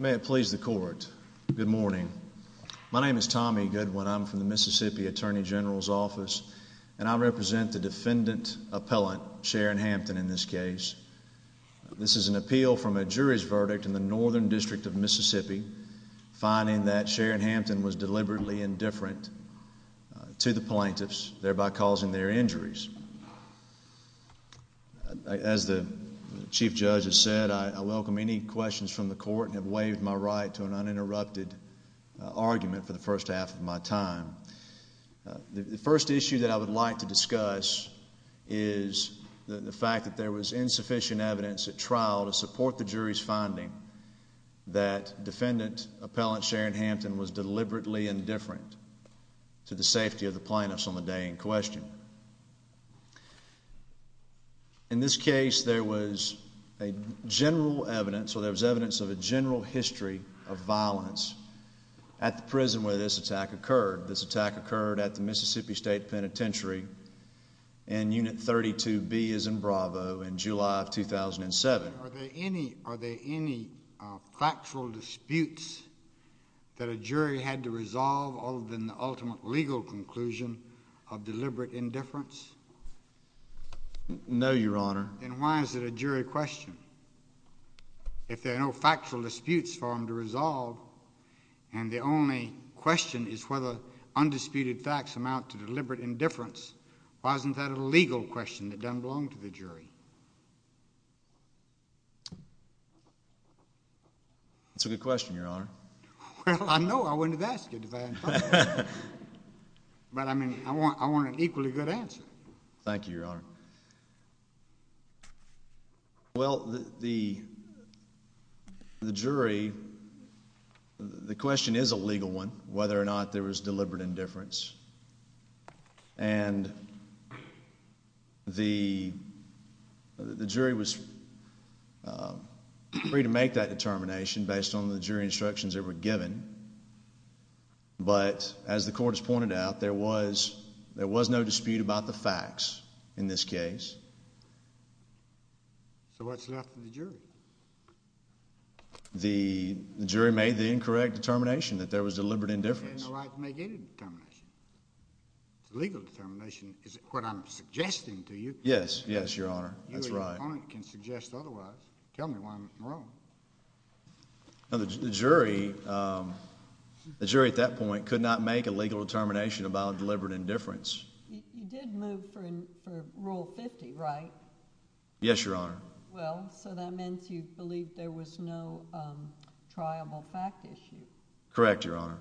May it please the court. Good morning. My name is Tommy Goodwin. I'm from the Mississippi Attorney General's office and I represent the defendant appellant Sharon Hampton. In this case, this is an appeal from a jury's verdict in the northern district of Mississippi, finding that Sharon Hampton was deliberately indifferent to the plaintiffs, thereby causing their injuries. As the chief judge has said, I welcome any questions from the court and have waived my right to an uninterrupted argument for the first half of my time. The first issue that I would like to discuss is the fact that there was insufficient evidence at trial to support the jury's finding that defendant appellant Sharon Hampton was deliberately indifferent to the safety of the plaintiffs on the day in question. In this case, there was a general evidence or there was evidence of a general history of violence at the prison where this attack occurred. This attack occurred at the Mississippi State Penitentiary and Unit 32B is in Bravo in July of 2007. Are there any factual disputes that a jury had to know, Your Honor? And why is it a jury question if there are no factual disputes for him to resolve? And the only question is whether undisputed facts amount to deliberate indifference. Why isn't that a legal question that doesn't belong to the jury? It's a good question, Your Honor. Well, I know I wouldn't have asked you that. But I mean, I want an equally good answer. Thank you, Your Honor. Well, the jury, the question is a legal one, whether or not there was deliberate indifference. And the jury was free to make that determination based on the jury instructions that were given. But as the court has pointed out, there was there was no dispute about the facts in this case. So what's left of the jury? The jury made the incorrect determination that there was deliberate indifference. Legal determination is what I'm suggesting to you. Yes, yes, Your Honor. That's right. Can suggest otherwise. Tell me one wrong. Now, the jury, um, the jury at that point could not make a legal determination about deliberate indifference. You did move for rule 50, right? Yes, Your Honor. Well, so that meant you believe there was no, um, triable fact issue. Correct, Your Honor.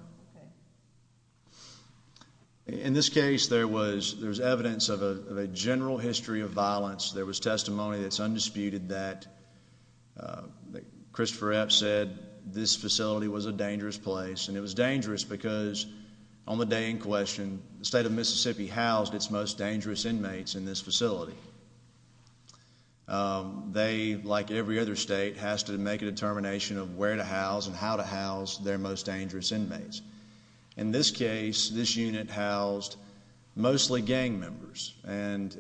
In this case, there was there's evidence of a general history of violence. There was testimony that's undisputed that, uh, Christopher F said this facility was a dangerous place, and it was dangerous because on the day in question, the state of Mississippi housed its most dangerous inmates in this facility. Um, they, like every other state, has to make a determination of where to house and how to house their most dangerous inmates. In this case, this unit housed mostly gang members and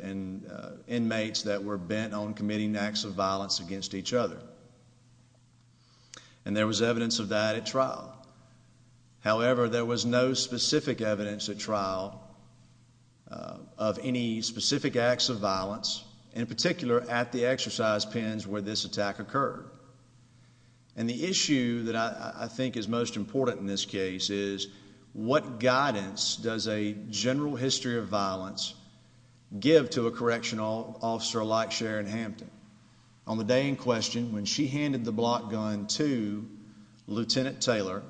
inmates that were bent on committing acts of violence against each other. And there was evidence of that at trial. However, there was no specific evidence at trial of any specific acts of violence, in particular at the exercise pens where this attack occurred. And the issue that I think is most important in this case is what guidance does a general history of violence give to a correctional officer like Sharon Hampton on the day in question when she handed the block gun to Lieutenant Taylor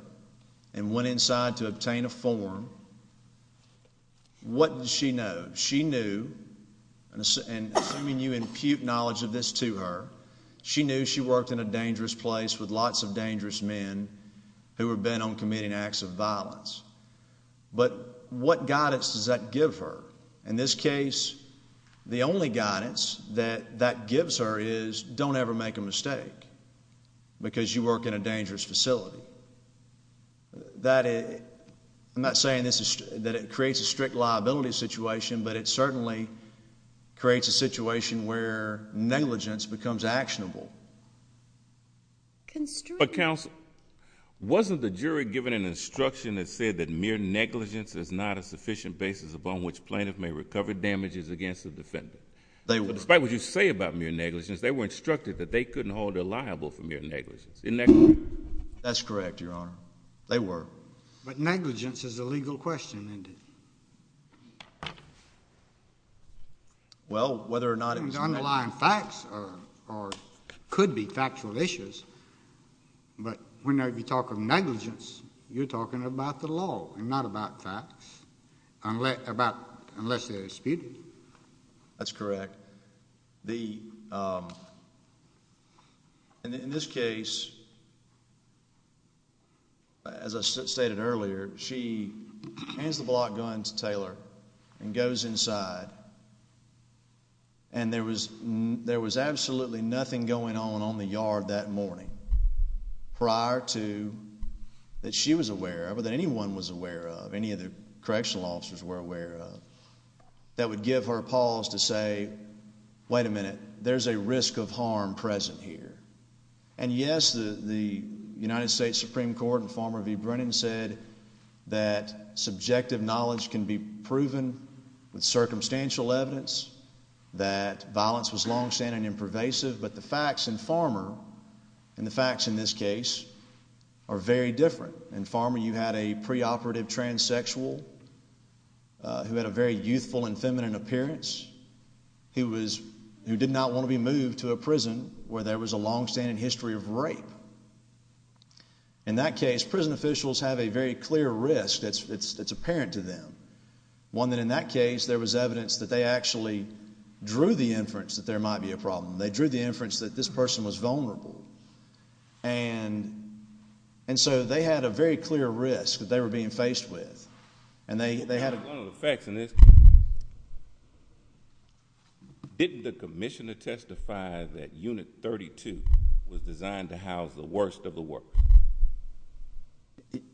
and went inside to obtain a form? What does she know? She knew and assuming you impute knowledge of this to her, she knew she worked in a dangerous place with lots of dangerous men who have been on committing acts of violence. But what guidance does that give her? In this case, the only guidance that that gives her is don't ever make a mistake because you work in a dangerous facility that I'm not saying this is that it creates a strict liability situation, but it certainly creates a situation where negligence becomes actionable. Construct Council wasn't the jury given an instruction that said that mere negligence is not a sufficient basis upon which plaintiff may recover damages against the defendant. But despite what you say about mere negligence, they were instructed that they couldn't hold her liable for mere negligence. Isn't that correct? That's correct, Your Honor. They were. But negligence is a legal question, isn't it? Well, whether or not it was underlying facts or could be factual issues. But whenever you talk of negligence, you're talking about the law and not about facts, unless they're disputed. That's correct. The, um, in this case, as I stated earlier, she hands the block gun to Taylor and goes inside. And there was there was absolutely nothing going on on the yard that morning prior to that she was aware of that anyone was aware of any of the correctional officers were aware of that would give her pause to say, Wait a minute, there's a risk of harm present here. And yes, the United States Supreme Court and Farmer v. Brennan said that subjective knowledge can be proven with circumstantial evidence that violence was longstanding and pervasive. But the facts and Farmer and the facts in this case are very different. And Farmer, you had a preoperative transsexual who had a very youthful and feminine appearance. He was who did not want to be moved to a prison where there was a longstanding history of rape. In that case, prison officials have a very clear risk. That's apparent to them. One that in that case, there was evidence that they actually drew the problem. They drew the inference that this person was vulnerable. And and so they had a very clear risk that they were being faced with. And they had a lot of effects in this. Didn't the commissioner testify that unit 32 was designed to house the worst of the work?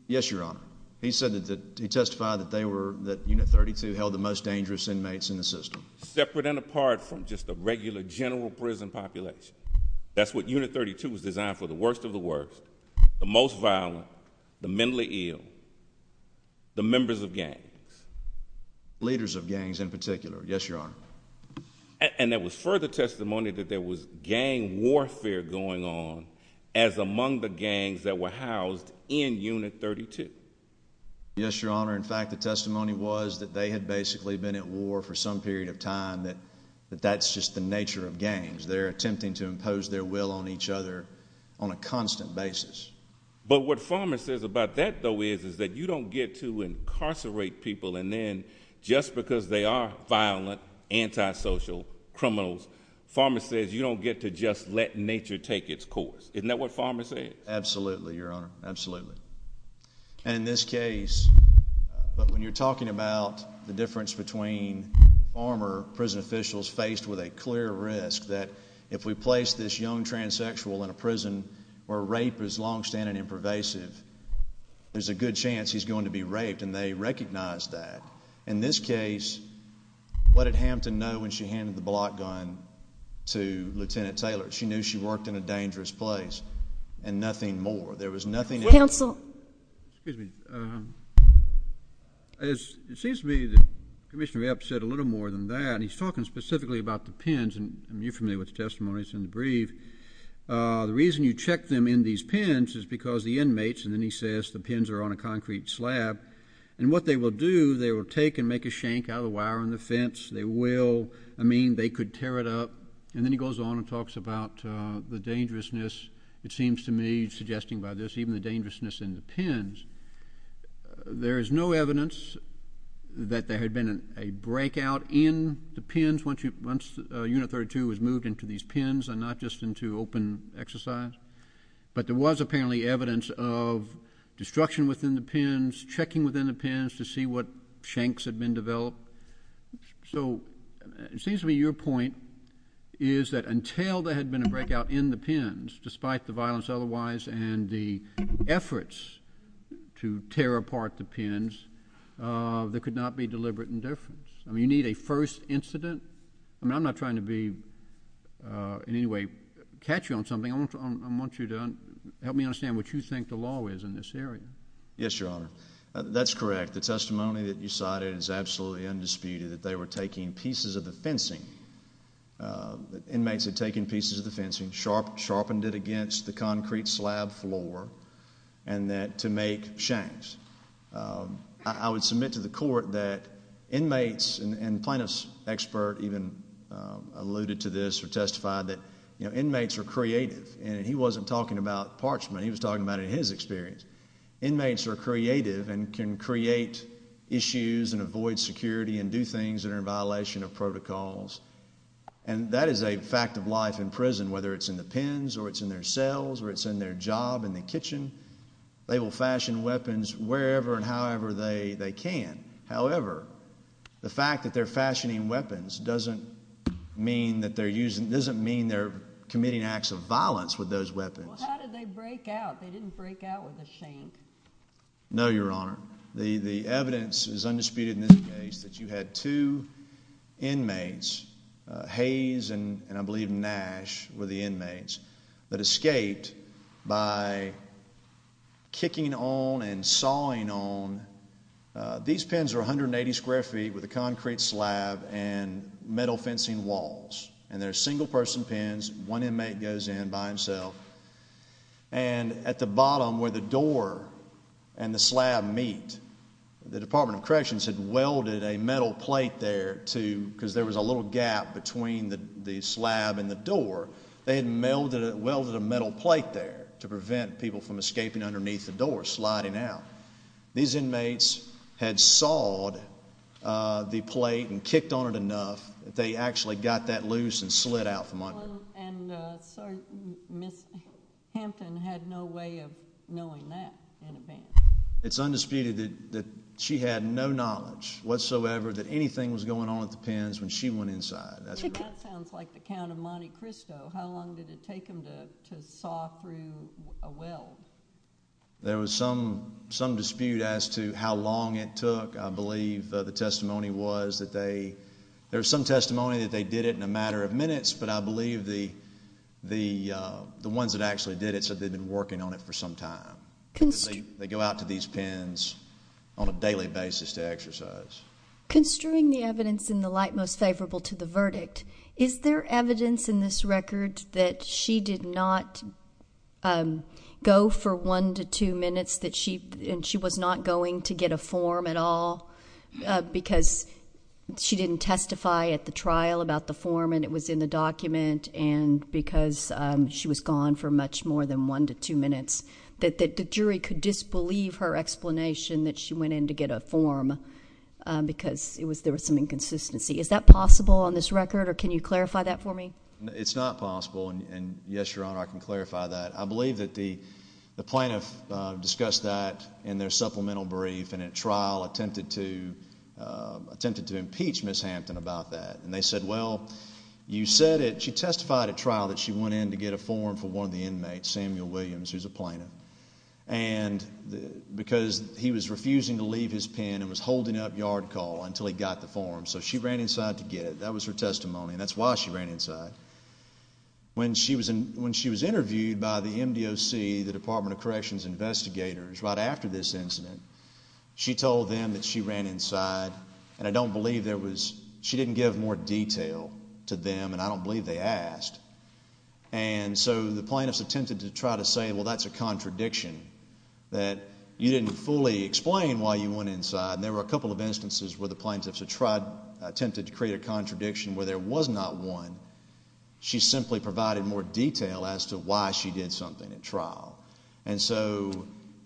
Yes, Your Honor. He said that he testified that they were that unit 32 held the most dangerous inmates in the system, separate and apart from just a prison population. That's what unit 32 was designed for. The worst of the worst, the most violent, the mentally ill, the members of gang leaders of gangs in particular. Yes, Your Honor. And there was further testimony that there was gang warfare going on as among the gangs that were housed in unit 32. Yes, Your Honor. In fact, the testimony was that they had basically been at war for some period of time that that's just the nature of gangs. They're attempting to impose their will on each other on a constant basis. But what farmer says about that, though, is is that you don't get to incarcerate people. And then just because they are violent, antisocial criminals, farmer says you don't get to just let nature take its course. Isn't that what farmers say? Absolutely, Your Honor. Absolutely. And in this case, but when you're talking about the difference between former prison officials faced with a clear risk that if we place this young transsexual in a prison where rape is longstanding and pervasive, there's a good chance he's going to be raped, and they recognize that in this case. What did Hampton know when she handed the block gun to Lieutenant Taylor? She knew she worked in a dangerous place and nothing more. There was nothing. Council. Excuse me. It seems to me that Commissioner Epps said a little more than that. He's specifically about the pins, and you're familiar with the testimonies in the brief. The reason you check them in these pens is because the inmates and then he says the pins are on a concrete slab and what they will do. They will take and make a shank out of the wire on the fence. They will. I mean, they could tear it up. And then he goes on and talks about the dangerousness. It seems to me suggesting by this, even the dangerousness in the pins, there is no evidence that there had been a breakout in the pins once unit 32 was moved into these pins and not just into open exercise. But there was apparently evidence of destruction within the pins, checking within the pins to see what shanks had been developed. So it seems to me your point is that until there had been a breakout in the pins, despite the violence otherwise and the efforts to tear apart the pins, there could not be deliberate indifference. I mean, you need a first incident. I'm not trying to be in any way catchy on something. I want you to help me understand what you think the law is in this area. Yes, your Honor. That's correct. The testimony that you cited is absolutely undisputed that they were taking pieces of the fencing. Inmates had taken pieces of the fencing, sharpened it against the concrete slab floor, and then to make shanks. I would submit to the court that inmates and plaintiffs expert even alluded to this or testified that inmates are creative, and he wasn't talking about parchment. He was talking about in his experience. Inmates are creative and can create issues and avoid security and do things that are in violation of protocols. And that is a fact of life in prison, whether it's in the pins or it's in their cells or it's in their job in the they will fashion weapons wherever and however they they can. However, the fact that they're fashioning weapons doesn't mean that they're using doesn't mean they're committing acts of violence with those weapons. How did they break out? They didn't break out with a shame. No, your Honor. The evidence is undisputed in this case that you had to inmates Hayes and I kicking on and sawing on. These pens are 180 square feet with the concrete slab and metal fencing walls, and they're single person pens. One inmate goes in by himself and at the bottom where the door and the slab meet. The Department of Corrections had welded a metal plate there, too, because there was a little gap between the slab and the door. They had melded welded a metal plate there to prevent people from escaping underneath the door sliding out. These inmates had sawed the plate and kicked on it enough that they actually got that loose and slid out from under. And Miss Hampton had no way of knowing that. It's undisputed that she had no knowledge whatsoever that anything was going on with the pens when she went inside. That sounds like the count of Monte Cristo. How long did it take him to saw through a well? There was some some dispute as to how long it took. I believe the testimony was that they there's some testimony that they did it in a matter of minutes, but I believe the the the ones that actually did it. So they've been working on it for some time. They go out to these pens on a daily basis to exercise construing the evidence in the light most favorable to the verdict. Is there evidence in this record that she did not, um, go for 1 to 2 minutes that she and she was not going to get a form at all because she didn't testify at the trial about the form and it was in the document and because she was gone for much more than 1 to 2 minutes that the jury could disbelieve her explanation that she went in to get a form because it was there was some inconsistency. Is that possible on this record? Or can you clarify that for me? It's not possible. And yes, your honor, I can clarify that. I believe that the plaintiff discussed that in their supplemental brief and at trial attempted to attempted to impeach Miss Hampton about that. And they said, Well, you said it. She testified at trial that she went in to get a form for one of the inmates, Samuel Williams, who's a plaintiff and because he was refusing to leave his pen and was holding up guard call until he got the form. So she ran inside to get it. That was her testimony. That's why she ran inside when she was when she was interviewed by the M. D. O. C. The Department of Corrections investigators right after this incident, she told them that she ran inside and I don't believe there was. She didn't give more detail to them, and I don't believe they asked. And so the plaintiffs attempted to try to say, Well, that's a contradiction that you didn't fully explain why you went inside. There were a couple of instances where the plaintiffs have tried attempted to create a contradiction where there was not one. She simply provided more detail as to why she did something in trial. And so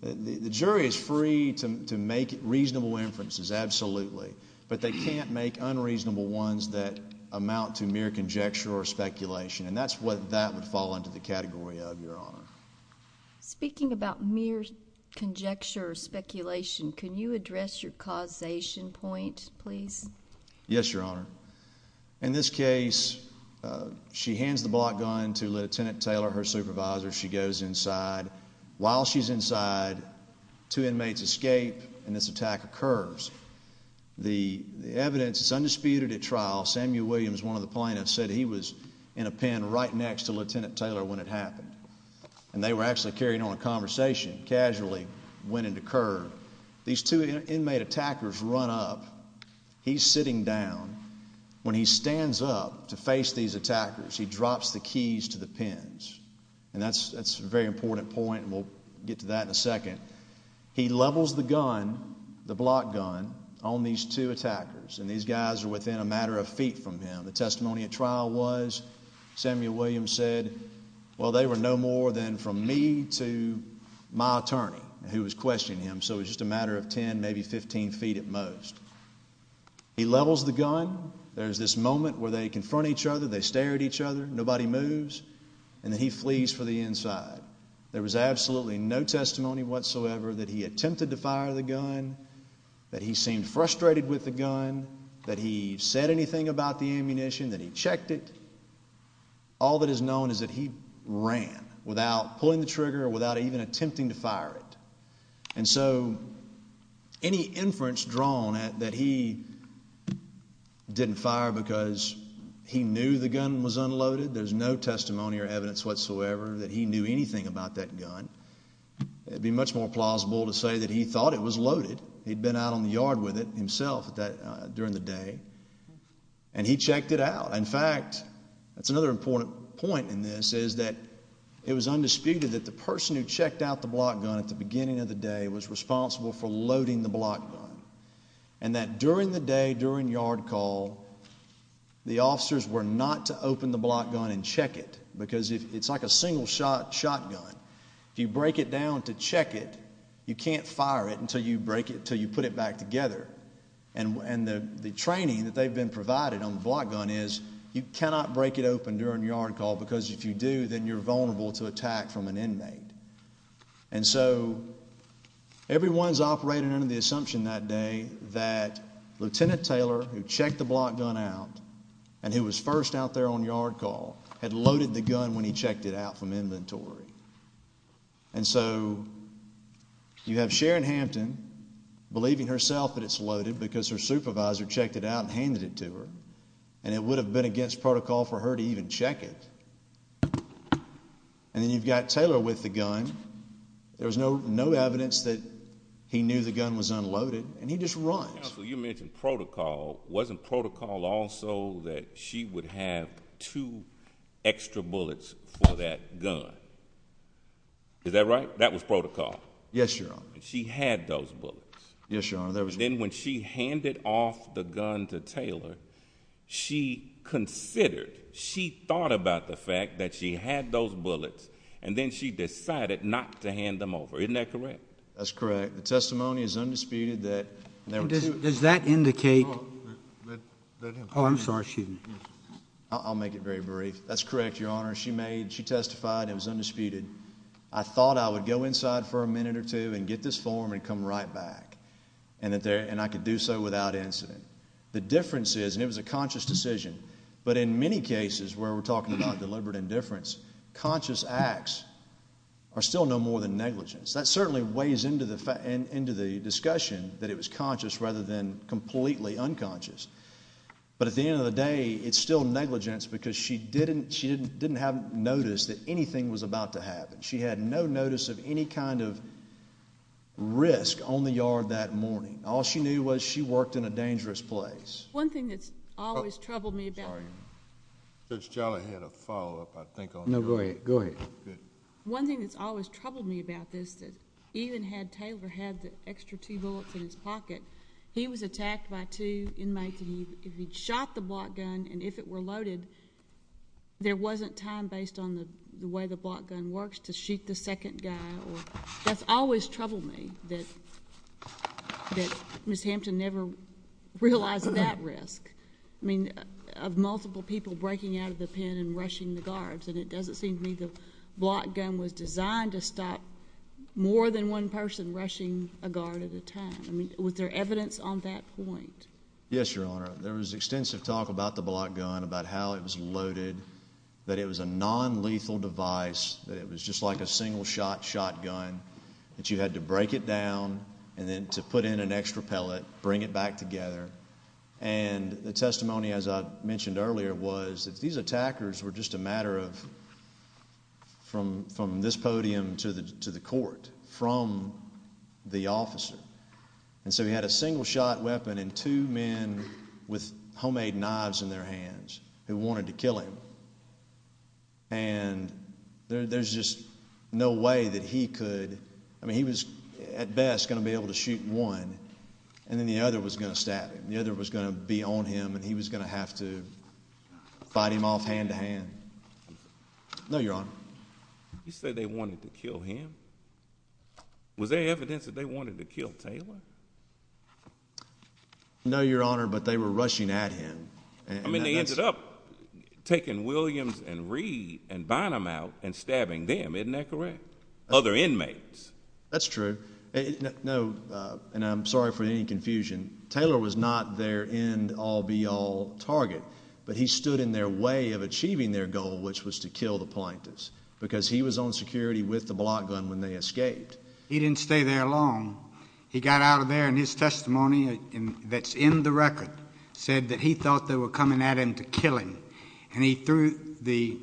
the jury is free to make reasonable inferences. Absolutely. But they can't make unreasonable ones that amount to mere conjecture or speculation. And that's what that would fall into the category of your honor. Speaking about mere conjecture, speculation, can you address your causation point, please? Yes, Your Honor. In this case, she hands the block gun to Lieutenant Taylor, her supervisor. She goes inside while she's inside to inmates escape, and this attack occurs. The evidence is undisputed at trial. Samuel Williams, one of the plaintiffs, said he was in a pen right next to Lieutenant Taylor when it happened, and they were actually carrying on a conversation casually when it occurred. These two inmate attackers run up. He's sitting down when he stands up to face these attackers. He drops the keys to the pens, and that's that's very important point. We'll get to that in a second. He levels the gun, the block gun on these two attackers, and these guys are within a matter of feet from him. The testimony at trial was Samuel Williams said, Well, they were no more than from me to my attorney who was questioning him. So it's just a matter of 10, maybe 15 ft at most. He levels the gun. There's this moment where they confront each other. They stare at each other. Nobody moves, and then he flees for the inside. There was absolutely no testimony whatsoever that he attempted to fire the gun, that he seemed frustrated with the gun, that he said anything about the ammunition, that he checked it. All that is known is that he ran without pulling the trigger without even attempting to fire it. And so any inference drawn at that he didn't fire because he knew the gun was unloaded. There's no testimony or evidence whatsoever that he knew anything about that gun. It would be much more plausible to say that he thought it was loaded. He'd been out on fact, that's another important point in this is that it was undisputed that the person who checked out the block gun at the beginning of the day was responsible for loading the block and that during the day during yard call, the officers were not to open the block gun and check it because it's like a single shot shotgun. If you break it down to check it, you can't fire it until you break it till you put it back together. And the training that block gun is you cannot break it open during yard call because if you do, then you're vulnerable to attack from an inmate. And so everyone's operating under the assumption that day that Lieutenant Taylor, who checked the block gun out and who was first out there on yard call, had loaded the gun when he checked it out from inventory. And so you have Sharon Hampton believing herself that it's loaded because her and it would have been against protocol for her to even check it. And then you've got Taylor with the gun. There was no, no evidence that he knew the gun was unloaded and he just runs. You mentioned protocol wasn't protocol also that she would have to extra bullets for that gun. Is that right? That was protocol. Yes, your honor. She had those books. Yes, she considered. She thought about the fact that she had those bullets and then she decided not to hand them over. Isn't that correct? That's correct. The testimony is undisputed that does that indicate that? Oh, I'm sorry. I'll make it very brief. That's correct. Your honor. She made. She testified. It was undisputed. I thought I would go inside for a minute or two and get this form and come right back and that there and I could do so without incident. The difference is and it was a conscious decision. But in many cases where we're talking about deliberate indifference, conscious acts are still no more than negligence. That certainly weighs into the into the discussion that it was conscious rather than completely unconscious. But at the end of the day, it's still negligence because she didn't. She didn't didn't have noticed that anything was about to happen. She had no notice of any kind of risk on the yard that morning. All she knew was she worked in a dangerous place. One thing that's always troubled me about. Sorry. Judge Jolly had a follow up, I think. No, go ahead. Go ahead. Good. One thing that's always troubled me about this that even had Taylor had the extra two bullets in his pocket, he was attacked by two inmates and he shot the block gun and if it were loaded, there wasn't time based on the way the block gun works to shoot the second guy or that's always troubled me that that Miss Hampton never realized that risk. I mean, of multiple people breaking out of the pen and rushing the guards and it doesn't seem to me the block gun was designed to stop more than one person rushing a guard at the time. I mean, with their evidence on that point. Yes, Your Honor. There was extensive talk about the block gun, about how it was loaded, that it was a non lethal device. It was just like a single shot shotgun that you had to break it down and then to put in an extra pellet, bring it back together. And the testimony, as I mentioned earlier, was that these attackers were just a matter of from from this podium to the to the court from the officer. And so we had a single shot weapon and two men with homemade knives in their hands who wanted to kill him. And there's just no way that he could. I mean, he was at best going to be able to shoot one and then the other was going to stab him. The other was going to be on him and he was going to have to fight him off hand to hand. No, Your Honor. You said they wanted to kill him. Was there evidence that they wanted to kill Taylor? No, Your Honor. But they were rushing at him. I mean, they ended up taking Williams and Reed and Bynum out and stabbing them. Isn't that correct? Other and I'm sorry for any confusion. Taylor was not there in all be all target, but he stood in their way of achieving their goal, which was to kill the plaintiffs because he was on security with the block gun. When they escaped, he didn't stay there long. He got out of there and his testimony that's in the record said that he thought they were coming at him to kill him. And he threw the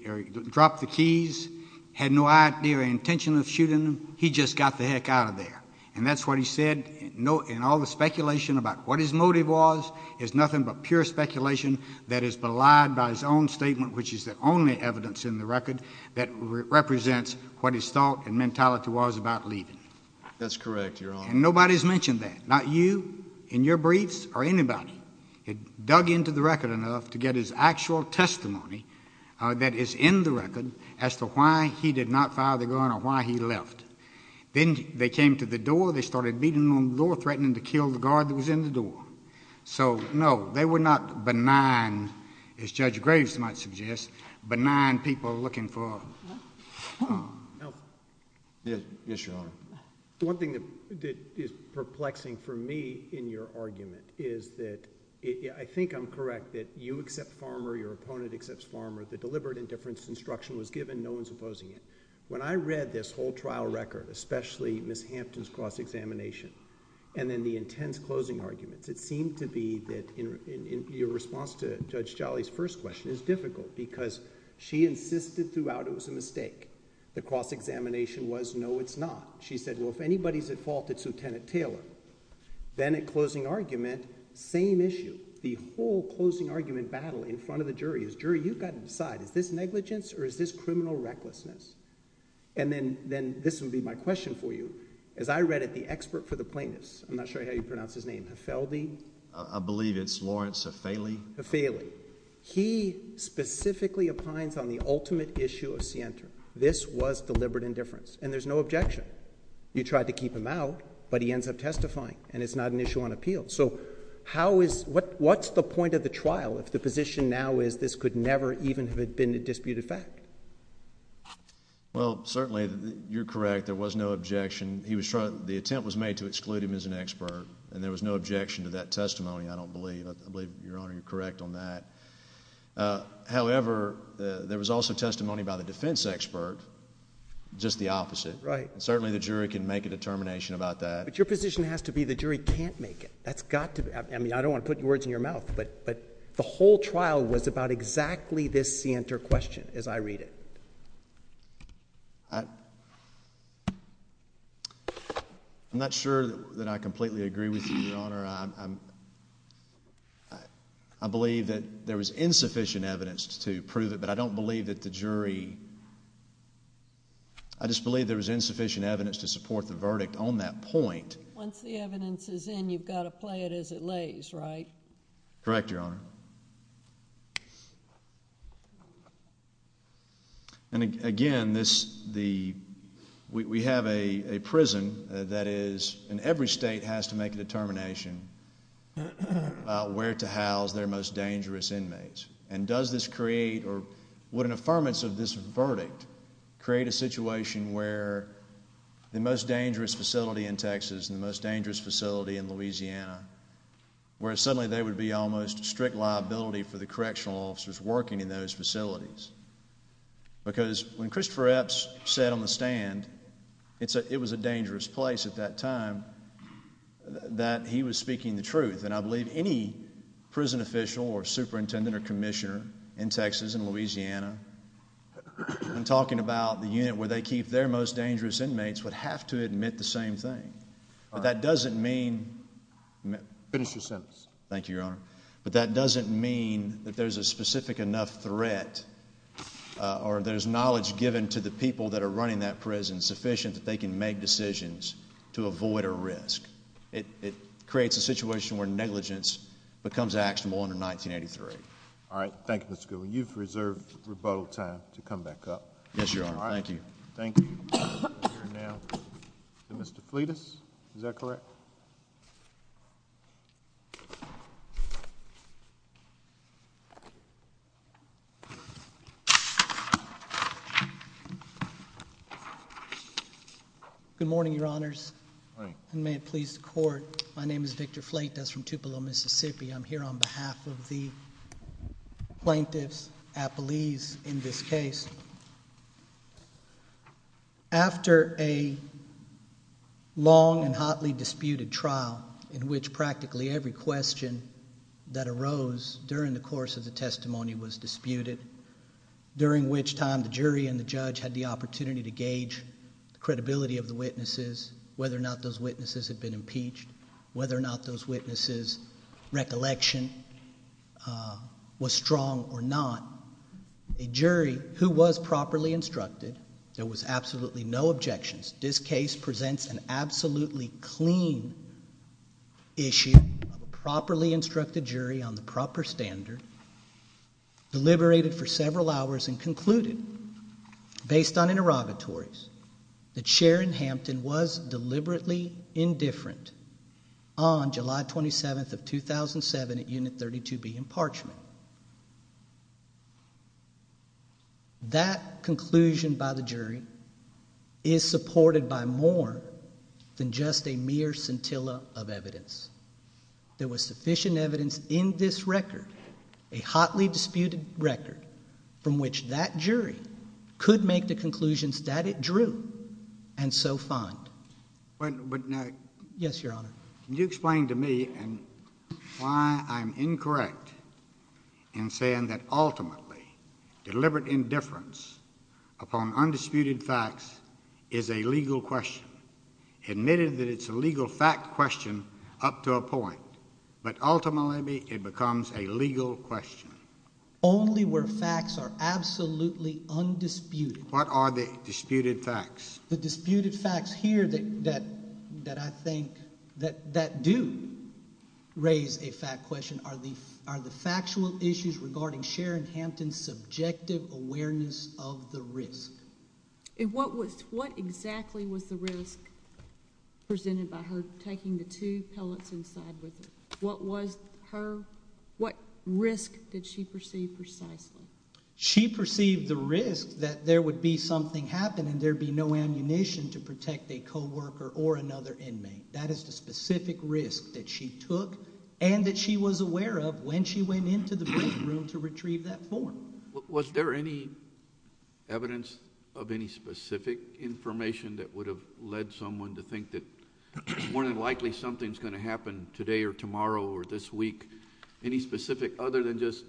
drop. The keys had no idea or intention of shooting him. He just got the heck out of there. And that's what he said. No. And all the speculation about what his motive was is nothing but pure speculation that is belied by his own statement, which is the only evidence in the record that represents what his thought and mentality was about leaving. That's correct, Your Honor. Nobody's mentioned that. Not you in your briefs or anybody had dug into the record enough to get his actual testimony that is in the record as to why he did not fire the gun or why he left. Then they came to the door. They started beating on door, threatening to kill the guard that was in the door. So no, they were not benign, as Judge Graves might suggest, benign people looking for help. Yes, Your Honor. One thing that is perplexing for me in your argument is that I think I'm correct that you accept farmer. Your opponent accepts farmer. The deliberate indifference instruction was given. No one's opposing it. When I read this whole trial record, especially Ms. Hampton's cross examination and then the intense closing arguments, it seemed to be that in your response to Judge Jolly's first question, it's difficult because she insisted throughout it was a mistake. The cross examination was, no, it's not. She said, well, if anybody's at fault, it's Lieutenant Taylor. Then at closing argument, same issue. The whole closing argument battle in front of the jury is, jury, you've got to decide, is this negligence or is this criminal recklessness? Then this would be my question for you. As I read it, the expert for the plaintiffs, I'm not sure how you pronounce his name, Heffelby... I believe it's Lawrence Heffaley. Heffaley. He specifically opines on the ultimate issue of Sienta. This was deliberate indifference, and there's no objection. You tried to keep him out, but he ends up testifying, and it's not an issue on appeal. So what's the point of the trial if the position now is that this could never even have been a disputed fact? Well, certainly, you're correct. There was no objection. The attempt was made to exclude him as an expert, and there was no objection to that testimony, I don't believe. I believe, Your Honor, you're correct on that. However, there was also testimony by the defense expert, just the opposite. Right. Certainly, the jury can make a determination about that. But your position has to be the jury can't make it. That's got to... I mean, I don't want to put words in your mouth, but the whole trial was about this Sienta question, as I read it. I'm not sure that I completely agree with you, Your Honor. I believe that there was insufficient evidence to prove it, but I don't believe that the jury... I just believe there was insufficient evidence to support the verdict on that point. Once the evidence is in, you've got to play it as it lays, right? Correct, Your Honor. And again, we have a prison that is... and every state has to make a determination about where to house their most dangerous inmates. And does this create, or would an affirmance of this verdict create a situation where the most dangerous facility in Texas and the most dangerous facility in Louisiana, where they would be almost strict liability for the correctional officers working in those facilities? Because when Christopher Epps sat on the stand, it was a dangerous place at that time that he was speaking the truth. And I believe any prison official or superintendent or commissioner in Texas and Louisiana, when talking about the unit where they keep their most dangerous inmates, would have to admit the same thing. All right. But that doesn't mean... Finish your sentence. Thank you, Your Honor. But that doesn't mean that there's a specific enough threat or there's knowledge given to the people that are running that prison sufficient that they can make decisions to avoid a risk. It creates a situation where negligence becomes actionable under 1983. All right. Thank you, Mr. Goodwin. You've reserved rebuttal time to come back up. Yes, Your Honor. Thank you. All right. Thank you. We're going to hear now from Mr. Fletus. Is that correct? Good morning, Your Honors. Good morning. And may it please the Court, my name is Victor Fletus from Tupelo, Mississippi. I'm here on behalf of the plaintiffs at Belize in this case. After a long and hotly disputed trial in which practically every question that arose during the course of the testimony was disputed, during which time the jury and the judge had the opportunity to gauge the credibility of the witnesses, whether or not those witnesses had been impeached, whether or not those witnesses' recollection was strong or not, a jury who was properly instructed, there was absolutely no objections, this case presents an absolutely clean issue of a properly instructed jury on the proper standard, deliberated for several hours and concluded, based on interrogatories, that Sharon Hampton was deliberately indifferent on July 27th of 2007 at Unit 32B in Parchment. That conclusion by the jury is supported by more than just a mere scintilla of evidence. There was sufficient evidence in this record, a hotly disputed record, from which that jury could make the conclusions that it drew and so find. But, now... Yes, Your Honor. Can you explain to me why I'm incorrect in saying that, ultimately, deliberate indifference upon undisputed facts is a legal question, admitted that it's a legal fact question up to a point, but ultimately it becomes a legal question? Only where facts are absolutely undisputed. What are the disputed facts? The disputed facts here that I think... that do raise a fact question are the factual issues regarding Sharon Hampton's subjective awareness of the risk. What exactly was the risk presented by her taking the two pellets inside with her? What was her... what risk did she perceive precisely? She perceived the risk that there would be something happen and there would be no ammunition to protect a co-worker or another inmate. That is the specific risk that she took and that she was aware of when she went into the break room to retrieve that form. Was there any evidence of any specific information that would have led someone to think that more than likely something's going to happen today or tomorrow or this week? Any specific, other than just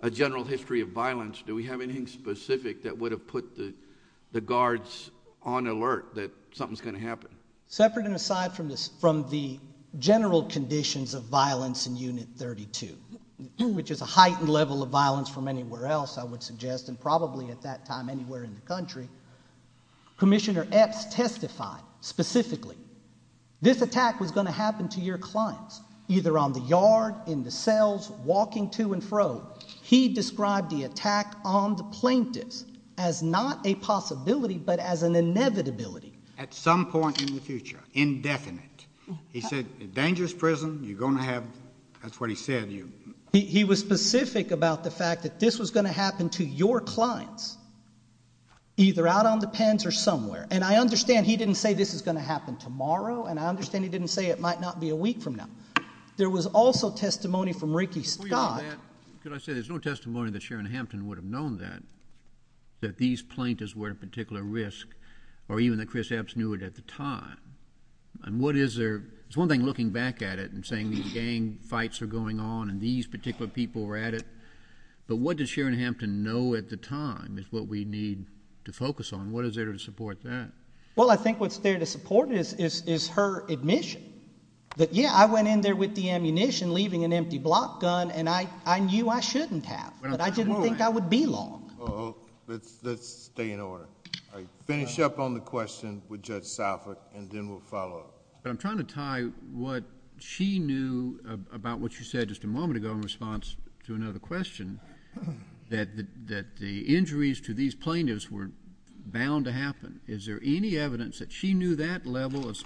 a general history of violence, do we have anything specific that would have put the guards on alert that something's going to happen? Separate and aside from the general conditions of violence in Unit 32, which is a heightened level of violence from anywhere else I would suggest and probably at that time anywhere in the country, Commissioner Epps testified specifically. This attack was going to happen to your clients, either on the yard, in the cells, walking to and fro. He described the attack on the plaintiffs as not a possibility but as an inevitability. At some point in the future, indefinite. He said a dangerous prison, you're going to have, that's what he said. He was specific about the fact that this was going to happen to your clients either out on the pens or somewhere. I understand he didn't say this is going to happen tomorrow and I understand he didn't say it might not be a week from now. There was also testimony from Ricky Scott... Before you go on that, could I say there's no testimony that Sharon Hampton would have known that, that these plaintiffs were at particular risk or even that Chris Epps knew it at the time. What is there... it's one thing looking back at it and saying these gang fights are going on and these particular people were at it, but what did Sharon Hampton know at the time is what we need to focus on. What is there to support that? Well, I think what's there to support is her admission that, yeah, I went in there with the ammunition leaving an empty block gun and I knew I shouldn't have, but I didn't think I would be long. Let's stay in order. All right. Finish up on the question with Judge Salford and then we'll follow up. I'm trying to tie what she knew about what you said just a moment ago in response to another question that the injuries to these plaintiffs were bound to happen. Is there any evidence that she knew that level of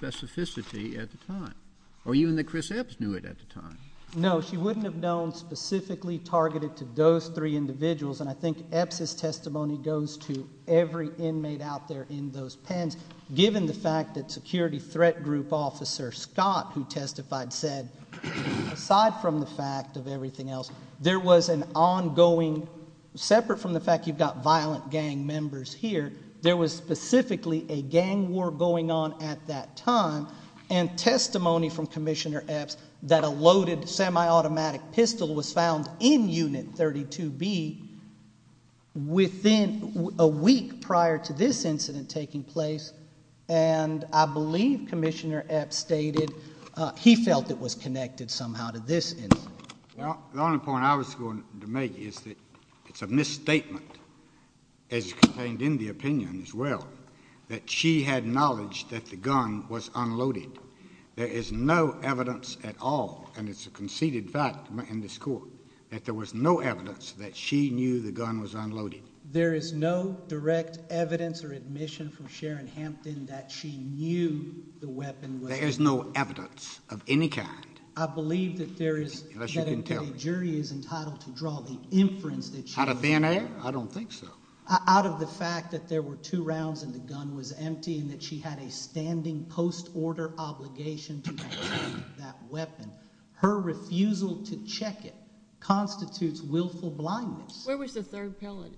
No. She wouldn't have known specifically targeted to those three individuals and I think Epps' testimony goes to every inmate out there in those pens, given the fact that security threat group officer Scott who testified said, aside from the fact of everything else, there was an ongoing... separate from the fact you've got violent gang members here, there was specifically a gang war going on at that time and testimony from that a loaded semi-automatic pistol was found in unit 32B within a week prior to this incident taking place and I believe Commissioner Epps stated he felt it was connected somehow to this incident. The only point I was going to make is that it's a misstatement as contained in the opinion as well that she had knowledge that the gun was unloaded. There is no evidence at all and it's a conceded fact in this court that there was no evidence that she knew the gun was unloaded. There is no direct evidence or admission from Sharon Hampton that she knew the weapon was... There is no evidence of any kind. I believe that there is... Unless you can tell me.... that a jury is entitled to draw the inference that she... Out of thin air? I don't think so. Out of the fact that there were two rounds and the gun was empty and that she had a standing post-order obligation to retrieve that weapon, her refusal to check it constitutes willful blindness. Where was the third pellet?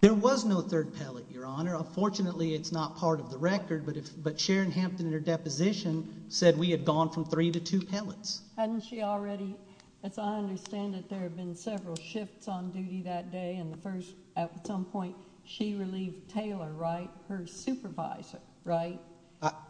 There was no third pellet, Your Honor. Unfortunately, it's not part of the record, but Sharon Hampton in her deposition said we had gone from three to two pellets. Hadn't she already... as I understand it, there have been several shifts on duty that day and the first... at some point she relieved Taylor, right, of her supervisor, right?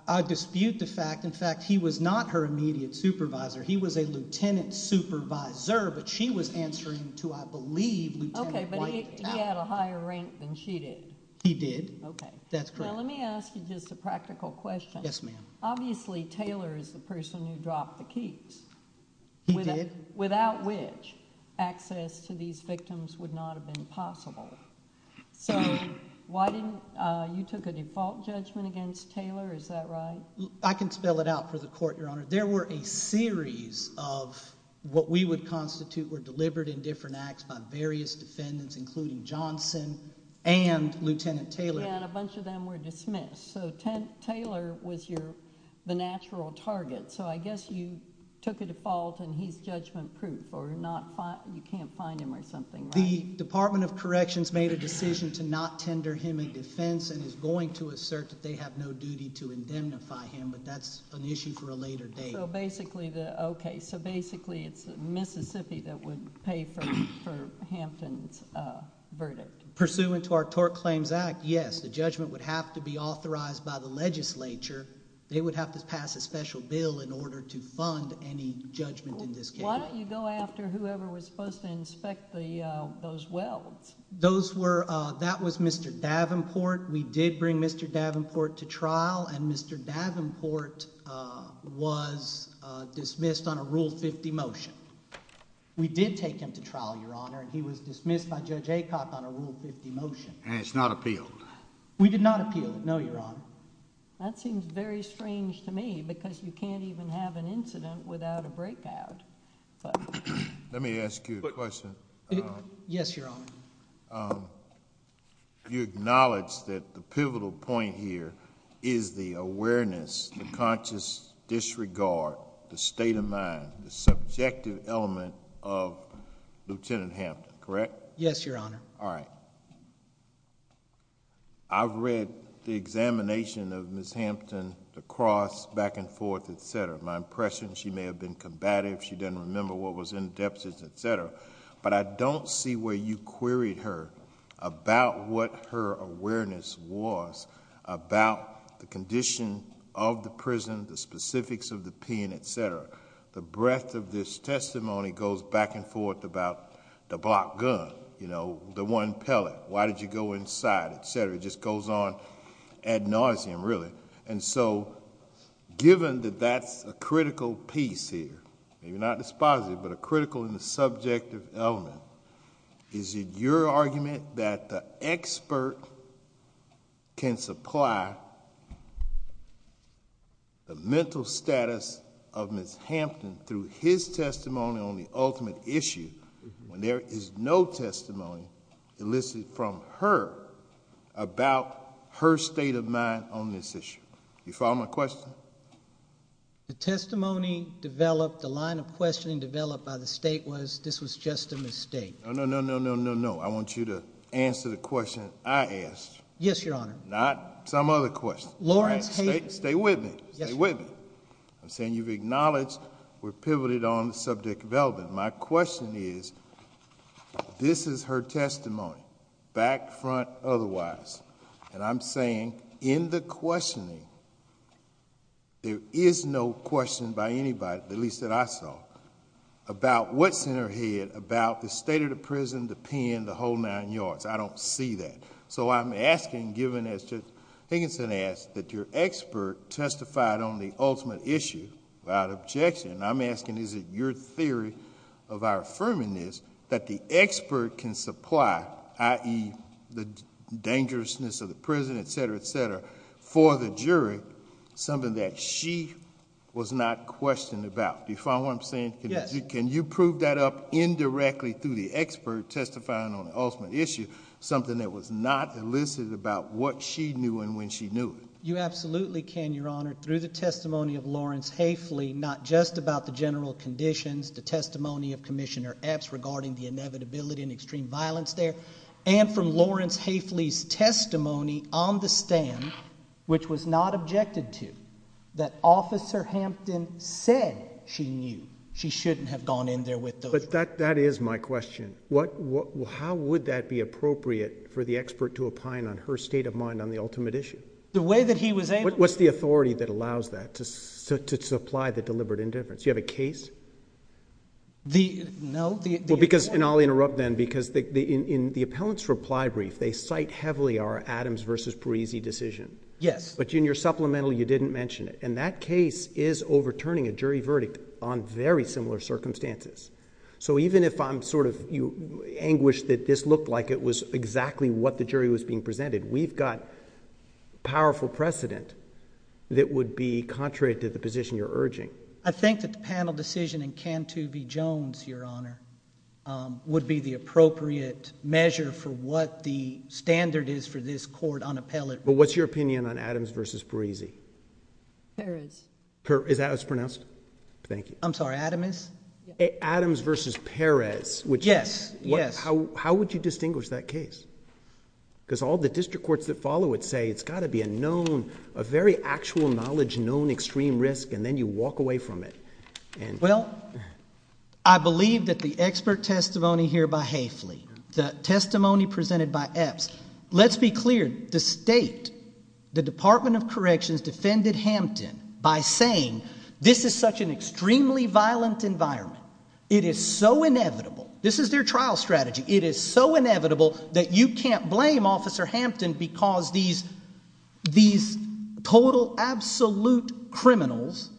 I dispute the fact... in fact, he was not her immediate supervisor. He was a lieutenant supervisor, but she was answering to, I believe, Lieutenant Whitehead. Okay, but he had a higher rank than she did. He did. Okay. That's correct. Now, let me ask you just a practical question. Yes, ma'am. Obviously, Taylor is the person who dropped the keys. He did. Without which, access to these victims would not have been possible. So, why didn't... you took a default judgment against Taylor, is that right? I can spell it out for the Court, Your Honor. There were a series of what we would constitute were delivered in different acts by various defendants, including Johnson and Lieutenant Taylor. Yeah, and a bunch of them were dismissed. So, Taylor was your... the natural target. So, I guess you took a default and he's judgment-proof or not... you can't find him or something like that. The Department of Corrections made a decision to not tender him in defense and is going to assert that they have no duty to indemnify him, but that's an issue for a later date. So, basically, it's Mississippi that would pay for Hampton's verdict. Pursuant to our Tort Claims Act, yes, the judgment would have to be authorized by the legislature. They would have to pass a special bill in order to fund any judgment in this case. Why don't you go after whoever was supposed to inspect those welds? Those were... that was Mr. Davenport. We did bring Mr. Davenport to trial and Mr. Davenport was dismissed on a Rule 50 motion. We did take him to trial, Your Honor, and he was dismissed by Judge Aycock on a Rule 50 motion. And it's not appealed? We did not appeal. No, Your Honor. That seems very strange to me because you can't even have an incident without a breakout. Let me ask you a question. Yes, Your Honor. You acknowledge that the pivotal point here is the awareness, the conscious disregard, the state of mind, the subjective element of Lieutenant Hampton, correct? Yes, Your Honor. All right. I've read the examination of Ms. Hampton, the cross back and forth, et cetera. My impression, she may have been combative. She didn't remember what was in the deposits, et cetera. But I don't see where you queried her about what her awareness was about the condition of the prison, the specifics of the pen, et cetera. The breadth of this testimony goes back and forth about the blocked gun, the one pellet. Why did you go inside, et cetera. It just goes on ad nauseum, really. Given that that's a critical piece here, maybe not dispositive, but a critical and subjective element, is it your argument that the expert can supply the mental status of Ms. Hampton through his testimony on the ultimate issue when there is no testimony elicited from her about her state of mind on this issue? Do you follow my question? The testimony developed, the line of questioning developed by the state was this was just a mistake. No, no, no, no, no, no. I want you to answer the question I asked. Yes, Your Honor. Not some other question. All right. Stay with me. Stay with me. I'm saying you've acknowledged we're pivoted on the subject of Elvin. My question is, this is her testimony, back, front, otherwise. I'm saying in the questioning, there is no question by anybody, at least that I saw, about what's in her head about the state of the prison, the pen, the whole nine yards. I don't see that. I'm asking, given as Judge Higginson asked, that your expert testified on the ultimate issue without objection. I'm asking, is it your theory of our affirming this that the expert can supply, i.e., the dangerousness of the prison, et cetera, et cetera, for the jury, something that she was not questioned about? Do you follow what I'm saying? Yes. Can you prove that up indirectly through the expert testifying on the ultimate issue, something that was not elicited about what she knew and when she knew it? You absolutely can, Your Honor. Through the testimony of Lawrence Hafley, not just about the general conditions, the testimony of Commissioner Epps regarding the inevitability of committing extreme violence there, and from Lawrence Hafley's testimony on the stand, which was not objected to, that Officer Hampton said she knew she shouldn't have gone in there with those... But that is my question. How would that be appropriate for the expert to opine on her state of mind on the ultimate issue? The way that he was able... What's the authority that allows that to supply the deliberate indifference? Do you have a case? No. Well, because... I'll interrupt then because in the appellant's reply brief, they cite heavily our Adams versus Parisi decision. Yes. But in your supplemental, you didn't mention it. That case is overturning a jury verdict on very similar circumstances. Even if I'm anguished that this looked like it was exactly what the jury was being presented, we've got powerful precedent that would be contrary to the position you're urging. I think that the panel decision in Cantu v. Jones, Your Honor, would be the appropriate measure for what the standard is for this court on appellate... But what's your opinion on Adams versus Parisi? Perez. Is that how it's pronounced? Thank you. I'm sorry. Adamis? Adams versus Perez, which... Yes. Yes. How would you distinguish that case? Because all the district courts that follow it say it's got to be a known, a known case. Can you walk away from it? Well, I believe that the expert testimony here by Haefeli, the testimony presented by Epps... Let's be clear. The state, the Department of Corrections defended Hampton by saying this is such an extremely violent environment. It is so inevitable. This is their trial strategy. It is so inevitable that you can't blame Officer Hampton because these total absolute criminals...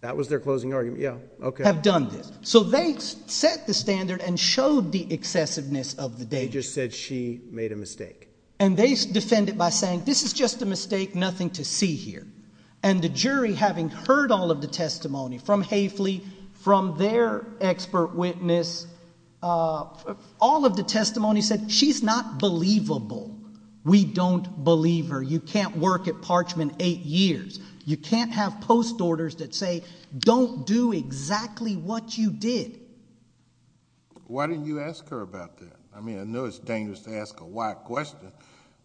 That was their closing argument. Okay.... have done this. So they set the standard and showed the excessiveness of the data. They just said she made a mistake. And they defend it by saying this is just a mistake, nothing to see here. And the jury having heard all of the testimony from Haefeli, from their expert witness, all of the testimony said she's not believable. We don't believe her. You can't work at Parchman eight years. You can't have post orders that say don't do exactly what you did. Why didn't you ask her about that? I mean, I know it's dangerous to ask a white question,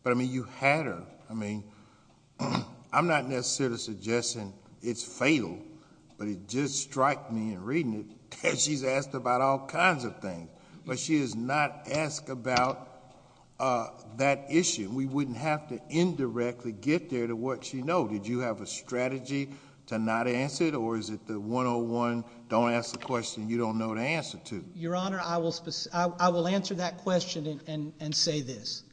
but, I mean, you had her. I mean, I'm not necessarily suggesting it's fatal, but it just striked me in reading it that she's asked about all kinds of things, but she does not ask about that issue. We wouldn't have to indirectly get there to what she knows. Did you have a strategy to not answer it, or is it the 101 don't ask the question you don't know the answer to? Your Honor, I will answer that question and say this.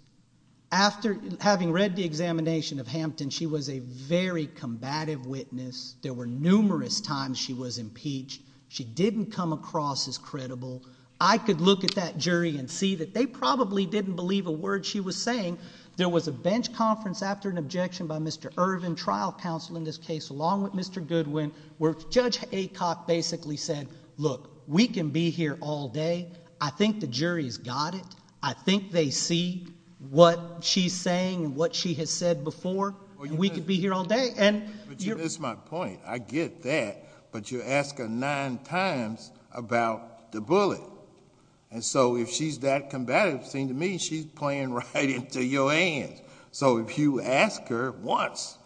After having read the examination of Hampton, she was a very combative witness. There were numerous times she was impeached. She didn't come across as credible. I could look at that jury and see that they probably didn't believe a word she was saying There was a bench conference after an objection by Mr. Irvin, trial counsel in this case, along with Mr. Goodwin, where Judge Aycock basically said, look, we can be here all day. I think the jury's got it. I think they see what she's saying and what she has said before, and we could be here all day. That's my point. I get that, but you ask her nine times about the bullet. If she's that combative, it seems to me she's playing right into your hands. If you ask her once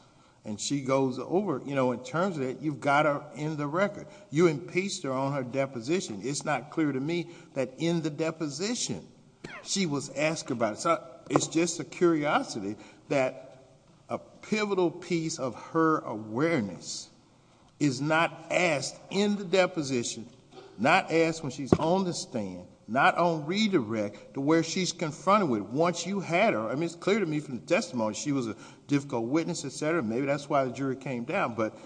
and she goes over it, in terms of that, you've got her in the record. You impeached her on her deposition. It's not clear to me that in the deposition she was asked about it. It's just a curiosity that a pivotal piece of her awareness is not asked in the deposition, not asked when she's on the stand, not on redirect to where she's confronted with. Once you had her, it's clear to me from the testimony, she was a difficult witness, et cetera. Maybe that's why the jury came down, but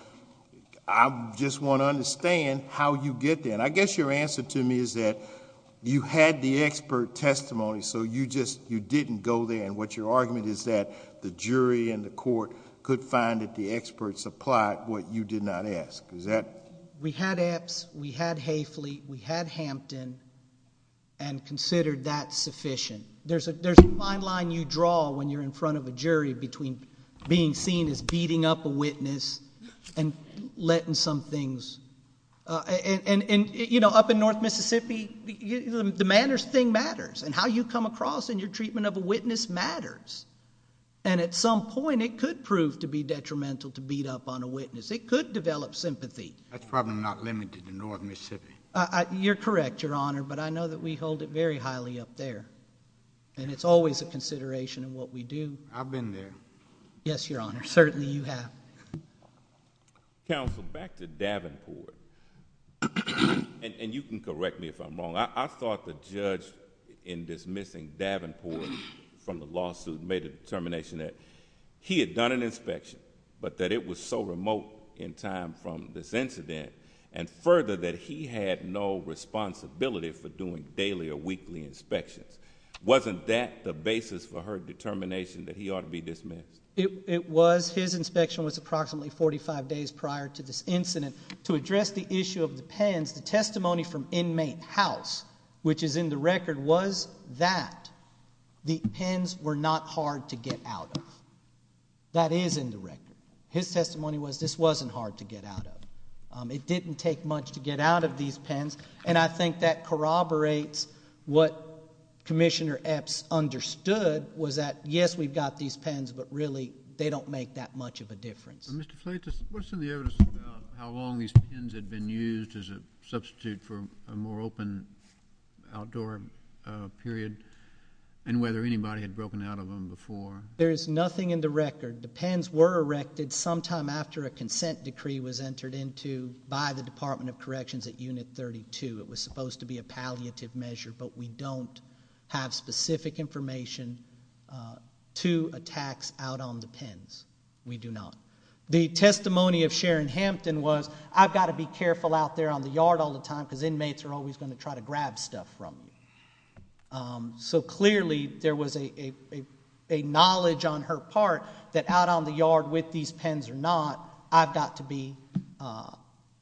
I just want to understand how you get there. I guess your answer to me is that you had the expert testimony, so you didn't go there, and what your argument is that the jury and the court could find that the experts applied what you did not ask. Is that... We had Epps. We had Hayfleet. We had Hampton, and considered that sufficient. There's a fine line you draw when you're in front of a jury between being seen as beating up a witness and letting some things... Up in North Mississippi, the manners thing matters, and how you come across in your treatment of a witness matters. At some point, it could prove to be detrimental to beat up on a witness. It could develop sympathy. That's probably not limited to North Mississippi. You're correct, Your Honor, but I know that we hold it very highly up there, and it's always a consideration of what we do. I've been there. Yes, Your Honor. Certainly, you have. Counsel, back to Davenport, and you can correct me if I'm wrong. I thought the judge in dismissing Davenport from the lawsuit made a determination that he had done an inspection, but that it was so remote in time from this incident, and further, that he had no responsibility for doing daily or weekly inspections. Wasn't that the basis for her determination that he ought to be dismissed? It was. His inspection was approximately 45 days prior to this incident. To address the issue of the pens, the testimony from inmate House, which is in the record, was that the pens were not hard to get out of. That is in the record. His testimony was this wasn't hard to get out of. It didn't take much to get out of these pens, and I think that corroborates what Commissioner Epps understood, was that, yes, we've got these pens, but really, they don't make that much of a difference. Mr. Plate, what's in the evidence about how long these pens had been used as a substitute for a more open outdoor period, and whether anybody had broken out of them before? There's nothing in the record. The pens were erected sometime after a consent decree was entered into by the Department of Corrections at Unit 32. It was supposed to be a palliative measure, but we don't have specific information to a tax out on the pens. We do not. The testimony of Sharon Hampton was, I've got to be careful out there on the yard all the time, because inmates are always going to try to grab stuff from me. So clearly, there was a knowledge on her part that out on the yard with these pens or not, I've got to be,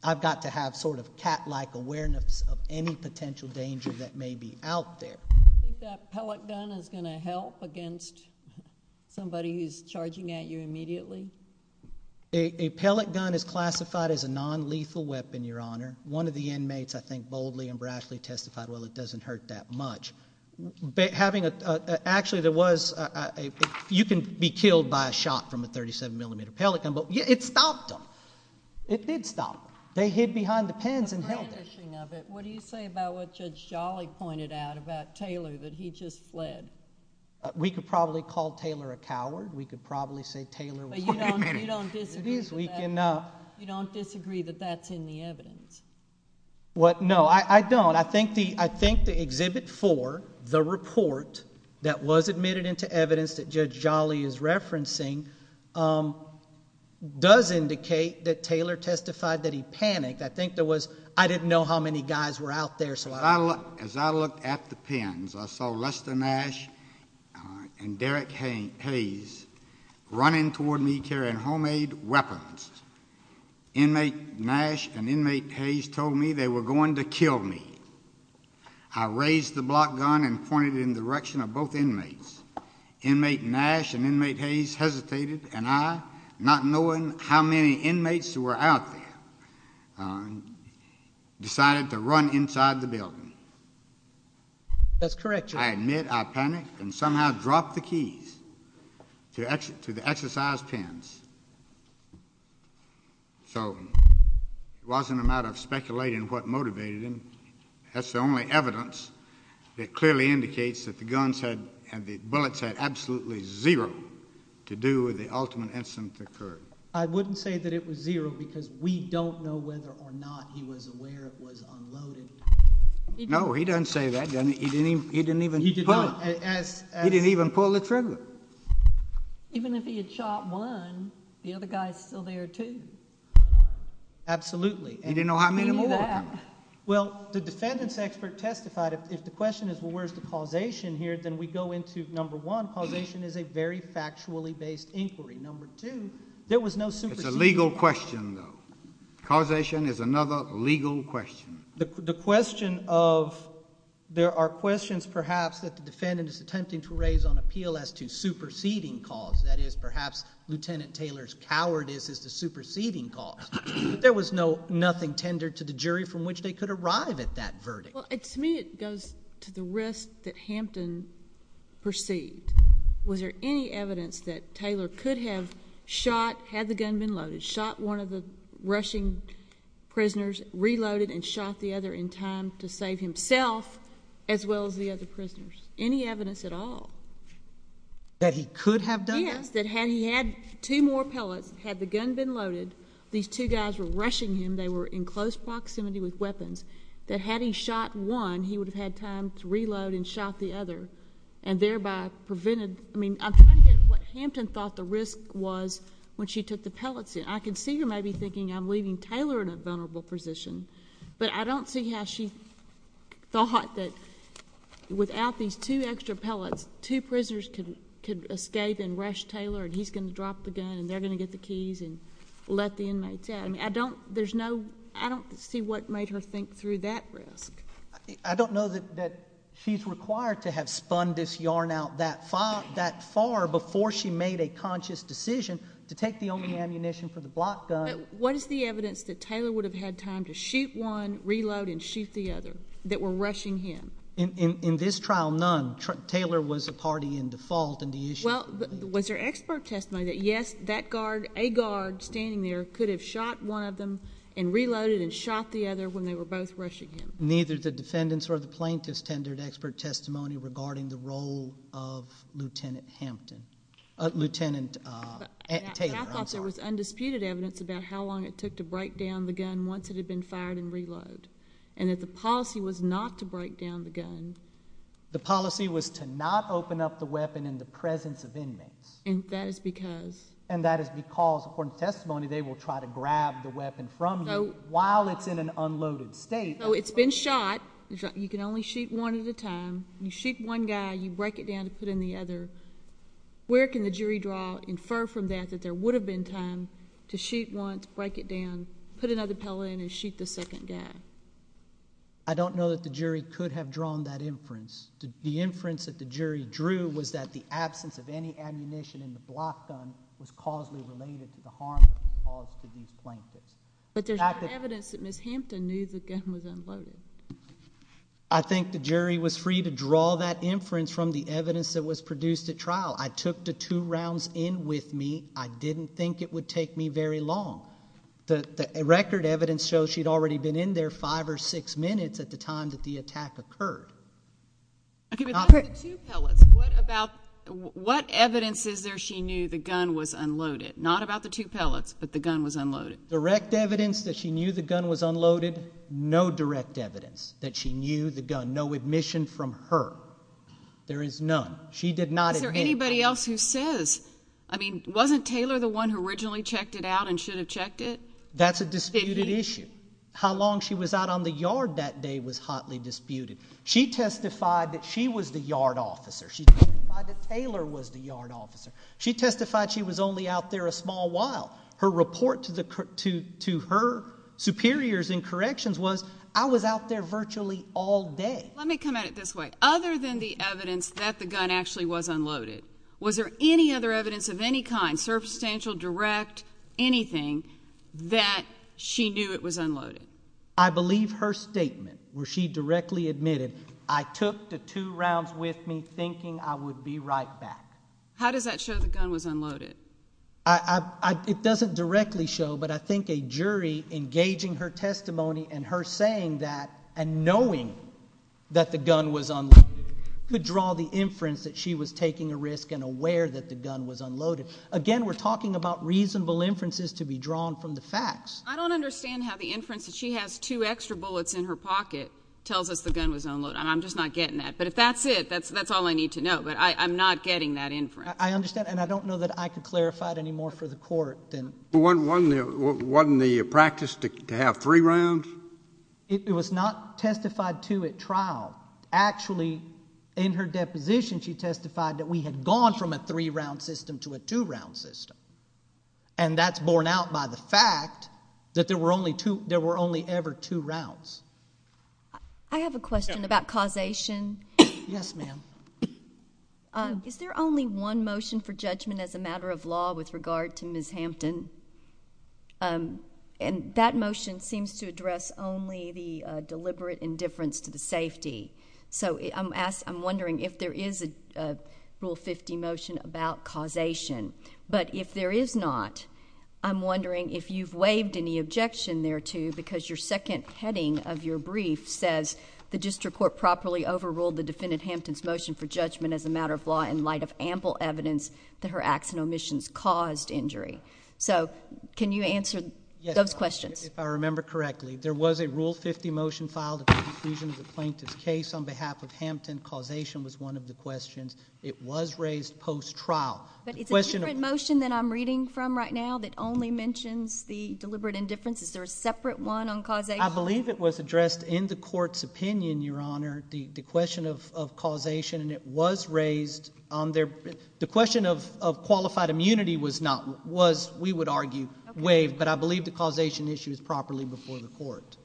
I've got to have sort of cat-like awareness of any potential danger that may be out there. Do you think that pellet gun is going to help against somebody who's charging at you immediately? A pellet gun is classified as a nonlethal weapon, Your Honor. One of the inmates, I think, boldly and brashly testified, well, it doesn't hurt that much. Having a... actually, there was a... you can be killed by a shot from a 37mm pellet gun, but it stopped them. It did stop them. They hid behind the pens and held them. The brandishing of it, what do you say about what Judge Jolly pointed out about Taylor, that he just fled? We could probably call Taylor a coward. We could probably say Taylor... But you don't disagree with that? It is weak enough. You don't disagree that that's in the evidence? What? No, I don't. I think the Exhibit 4, the report that was admitted into evidence that Judge Jolly is referencing does indicate that Taylor testified that he panicked. I think there was... I didn't know how many guys were out there, so I... As I looked at the pens, I saw Lester Nash and Derek Hayes running toward me carrying homemade weapons. Inmate Nash and Inmate Hayes told me they were going to kill me. I raised the block gun and pointed it in the direction of both inmates. Inmate Nash and Inmate Hayes hesitated, and I, not knowing how many inmates were out there, decided to run inside the building. That's correct, Judge. I admit I panicked and somehow dropped the keys to the exercise pens. So it wasn't a matter of speculating what motivated him. That's the only evidence that clearly indicates that the guns and the bullets had absolutely zero to do with the ultimate incident that occurred. I wouldn't say that it was zero, because we don't know whether or not he was aware it was unloaded. No, he doesn't say that, does he? He didn't even pull the trigger. Even if he had shot one, the other guy is still there, too. Absolutely. He didn't know how many more were coming. He knew that. Well, the defendant's expert testified, if the question is, well, where's the causation here, then we go into, number one, causation is a very factually based inquiry. Number two, there was no supersedition. It's a legal question, though. Causation is another legal question. The question of... there are questions, perhaps, that the defendant is attempting to raise on appeal as to superseding cause, that is, perhaps Lieutenant Taylor's cowardice is the superseding cause. There was nothing tendered to the jury from which they could arrive at that verdict. Well, to me, it goes to the risk that Hampton perceived. Was there any evidence that Taylor could have shot, had the gun been loaded, shot one of the rushing prisoners, reloaded and shot the other in time to save himself as well as the other prisoners? Any evidence at all? That he could have done that? Yes. That had he had two more pellets, had the gun been loaded, these two guys were rushing him, they were in close proximity with weapons, that had he shot one, he would have had time to reload and shot the other and thereby prevented... I mean, I'm trying to get what Hampton thought the risk was when she took the pellets in. I can see her maybe thinking, I'm leaving Taylor in a vulnerable position, but I don't see how she thought that without these two extra pellets, two prisoners could escape and rush Taylor and he's going to drop the gun and they're going to get the keys and let the inmates out. I mean, I don't... there's no... I don't see what made her think through that risk. I don't know that she's required to have spun this yarn out that far before she made a conscious decision to take the only ammunition for the block gun... But what is the evidence that Taylor would have had time to shoot one, reload and shoot the other that were rushing him? In this trial, none. Taylor was a party in default in the issue. Well, was there expert testimony that, yes, that guard, a guard standing there could have shot one of them and reloaded and shot the other when they were both rushing him? Neither the defendants or the plaintiffs tendered expert testimony regarding the role of Lieutenant Hampton. Lieutenant Taylor, I'm sorry. But I thought there was undisputed evidence about how long it took to break down the gun once it had been fired and reloaded and that the policy was not to break down the gun... The policy was to not open up the weapon in the presence of inmates. And that is because... And that is because, according to testimony, they will try to grab the weapon from you while it's in an unloaded state. So it's been shot. You can only shoot one at a time. You shoot one guy. You break it down to put in the other. Where can the jury draw... infer from that that there would have been time to shoot once, break it down, put another pellet in, and shoot the second guy? I don't know that the jury could have drawn that inference. The inference that the jury drew was that the absence of any ammunition in the block gun was causally related to the harm caused to these plaintiffs. But there's evidence that Ms. Hampton knew the gun was unloaded. I think the jury was free to draw that inference from the evidence that was produced at trial. I took the two rounds in with me. I didn't think it would take me very long. The record evidence shows she'd already been in there five or six minutes at the time that the attack occurred. Okay, but that's the two pellets. What evidence is there she knew the gun was unloaded? Not about the two pellets, but the gun was unloaded. Direct evidence that she knew the gun was unloaded. No direct evidence that she knew the gun. No admission from her. There is none. She did not admit. Is there anybody else who says... I mean, wasn't Taylor the one who originally checked it out and should have checked it? That's a disputed issue. How long she was out on the yard that day was hotly disputed. She testified that she was the yard officer. She testified that Taylor was the yard officer. She testified she was only out there a small while. Her report to her superiors in corrections was, I was out there virtually all day. Let me come at it this way. Other than the evidence that the gun actually was unloaded, was there any other evidence of any kind, substantial, direct, anything, that she knew it was unloaded? I believe her statement where she directly admitted, I took the two rounds with me thinking I would be right back. How does that show the gun was unloaded? It doesn't directly show, but I think a jury engaging her testimony and her saying that and knowing that the gun was unloaded could draw the inference that she was taking a risk and aware that the gun was unloaded. Again, we're talking about reasonable inferences to be drawn from the facts. I don't understand how the inference that she has two extra bullets in her pocket tells us the gun was unloaded. I'm just not getting that. But if that's it, that's all I need to know. But I'm not getting that inference. I understand. And I don't know that I could clarify it any more for the court than... Wasn't the practice to have three rounds? It was not testified to at trial. Actually, in her deposition, she testified that we had gone from a three-round system to a two-round system. And that's borne out by the fact that there were only ever two rounds. I have a question about causation. Yes, ma'am. Is there only one motion for judgment as a matter of law with regard to Ms. Hampton? And that motion seems to address only the deliberate indifference to the safety. So I'm wondering if there is a Rule 50 motion about causation. But if there is not, I'm wondering if you've waived any objection thereto because your second heading of your brief says the district court properly overruled the defendant Hampton's objection for judgment as a matter of law in light of ample evidence that her acts and omissions caused injury. So can you answer those questions? Yes, if I remember correctly. There was a Rule 50 motion filed at the conclusion of the plaintiff's case on behalf of Hampton. Causation was one of the questions. It was raised post-trial. But it's a different motion than I'm reading from right now that only mentions the deliberate indifference. Is there a separate one on causation? I believe it was addressed in the court's opinion, Your Honor. The question of causation, and it was raised on their—the question of qualified immunity was not—was, we would argue, waived. But I believe the causation issue is properly before the court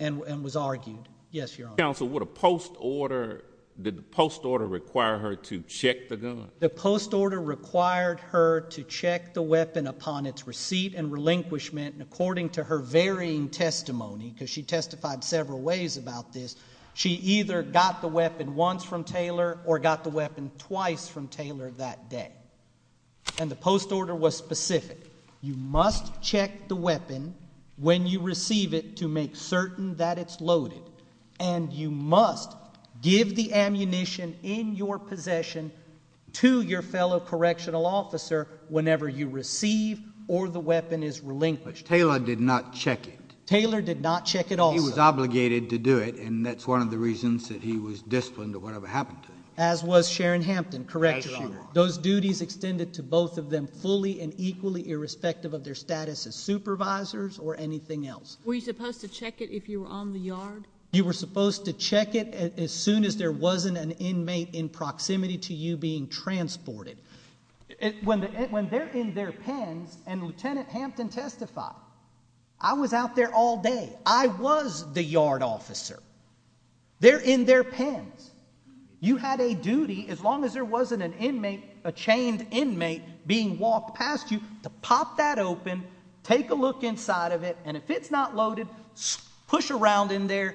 and was argued. Yes, Your Honor. Counsel, would a post-order—did the post-order require her to check the gun? The post-order required her to check the weapon upon its receipt and relinquishment. And according to her varying testimony, because she testified several ways about this, she either got the weapon once from Taylor or got the weapon twice from Taylor that day. And the post-order was specific. You must check the weapon when you receive it to make certain that it's loaded. And you must give the ammunition in your possession to your fellow correctional officer whenever you receive or the weapon is relinquished. Taylor did not check it. Taylor did not check it also. He was obligated to do it, and that's one of the reasons that he was disciplined or whatever happened to him. As was Sharon Hampton, correct? As Your Honor. Those duties extended to both of them fully and equally, irrespective of their status as supervisors or anything else. Were you supposed to check it if you were on the yard? You were supposed to check it as soon as there wasn't an inmate in proximity to you being transported. When they're in their pens, and Lieutenant Hampton testified, I was out there all day. I was the yard officer. They're in their pens. You had a duty, as long as there wasn't an inmate, a chained inmate being walked past you, to pop that open, take a look inside of it, and if it's not loaded, push around in there,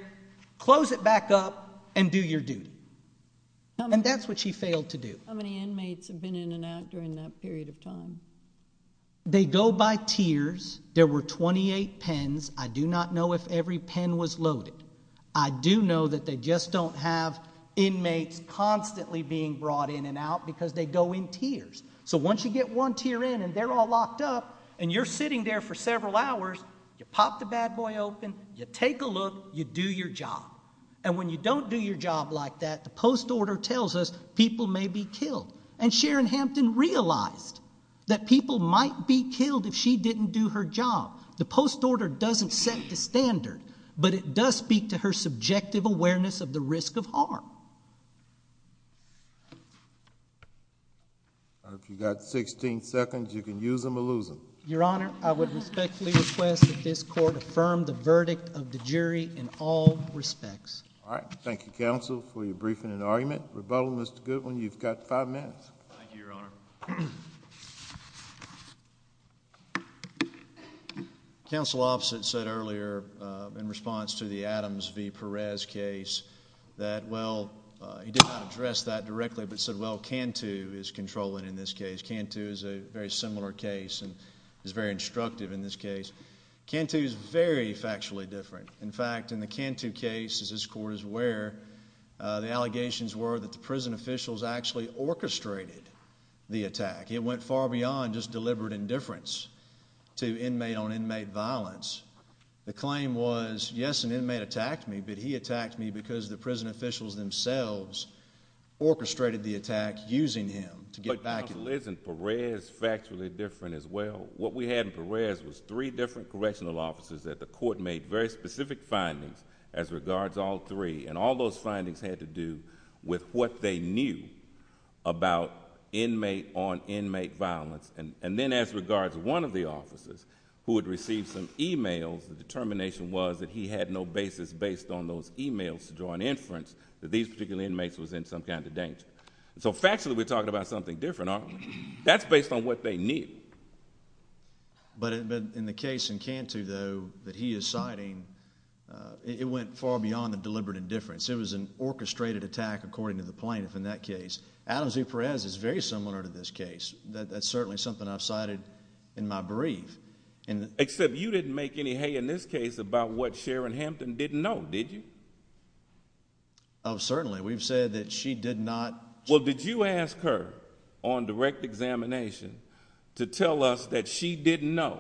close it back up, and do your duty. And that's what she failed to do. How many inmates have been in and out during that period of time? They go by tiers. There were 28 pens. I do not know if every pen was loaded. I do know that they just don't have inmates constantly being brought in and out because they go in tiers. So once you get one tier in and they're all locked up, and you're sitting there for several hours, you pop the bad boy open, you take a look, you do your job. And when you don't do your job like that, the post order tells us people may be killed. And Sharon Hampton realized that people might be killed if she didn't do her job. The post order doesn't set the standard, but it does speak to her subjective awareness of the risk of harm. If you've got 16 seconds, you can use them or lose them. Your Honor, I would respectfully request that this court affirm the verdict of the jury in all respects. All right, thank you, Counsel, for your briefing and argument. Rebuttal, Mr. Goodwin, you've got five minutes. Thank you, Your Honor. Counsel Offset said earlier, in response to the Adams v. Perez case, that, well, he did not address that directly, but said, well, Cantu is controlling in this case. Cantu is a very similar case and is very instructive in this case. Cantu is very factually different. In fact, in the Cantu case, as this court is aware, the allegations were that the prison officials actually orchestrated the attack. It went far beyond just deliberate indifference to inmate on inmate violence. The claim was, yes, an inmate attacked me, but he attacked me because the prison officials themselves orchestrated the attack using him to get back at me. But, Counsel, isn't Perez factually different as well? What we had in Perez was three different correctional officers that the court made very specific findings as regards all three. All those findings had to do with what they knew about inmate on inmate violence. Then, as regards one of the officers who had received some e-mails, the determination was that he had no basis based on those e-mails to draw an inference that these particular inmates was in some kind of danger. Factually, we're talking about something different, aren't we? That's based on what they knew. But, in the case in Cantu, though, that he is citing, it went far beyond the deliberate indifference. It was an orchestrated attack according to the plaintiff in that case. Adams v. Perez is very similar to this case. That's certainly something I've cited in my brief. Except, you didn't make any hay in this case about what Sharon Hampton didn't know, did you? Oh, certainly. We've said that she did not... Well, did you ask her on direct examination to tell us that she didn't know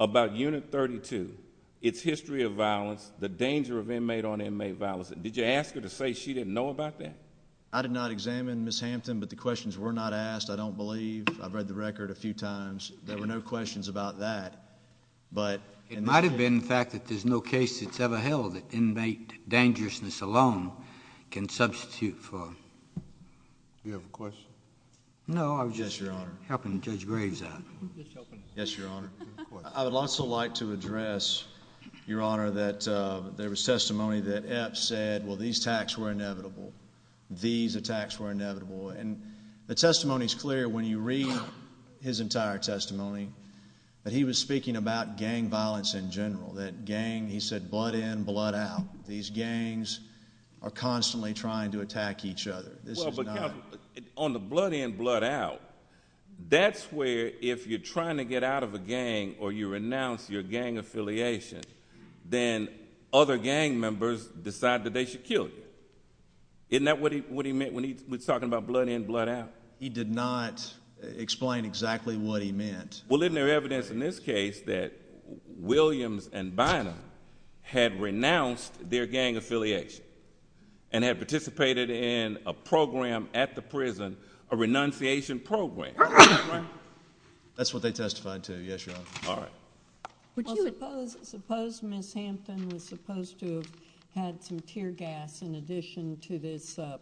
about Unit 32, its history of violence, the danger of inmate on inmate violence? Did you ask her to say she didn't know about that? I did not examine Ms. Hampton, but the questions were not asked, I don't believe. I've read the record a few times. There were no questions about that, but... It might have been the fact that there's no case that's ever held that inmate dangerousness alone can substitute for... Do you have a question? No, I was just helping Judge Graves out. Yes, Your Honor. I would also like to address, Your Honor, that there was testimony that Epps said, well, these attacks were inevitable. These attacks were inevitable. The testimony's clear when you read his entire testimony, that he was speaking about gang violence in general. That gang, he said, blood in, blood out. These gangs are constantly trying to attack each other. This is not... Well, but, Counselor, on the blood in, blood out, that's where if you're trying to get out of a gang or you renounce your gang affiliation, then other gang members decide that they should kill you. Isn't that what he meant when he was talking about blood in, blood out? He did not explain exactly what he meant. Well, isn't there evidence in this case that Williams and Bynum had renounced their gang affiliation and had participated in a program at the prison, a renunciation program? That's what they testified to. Yes, Your Honor. All right. Well, suppose Ms. Hampton was supposed to have had some tear gas in addition to this one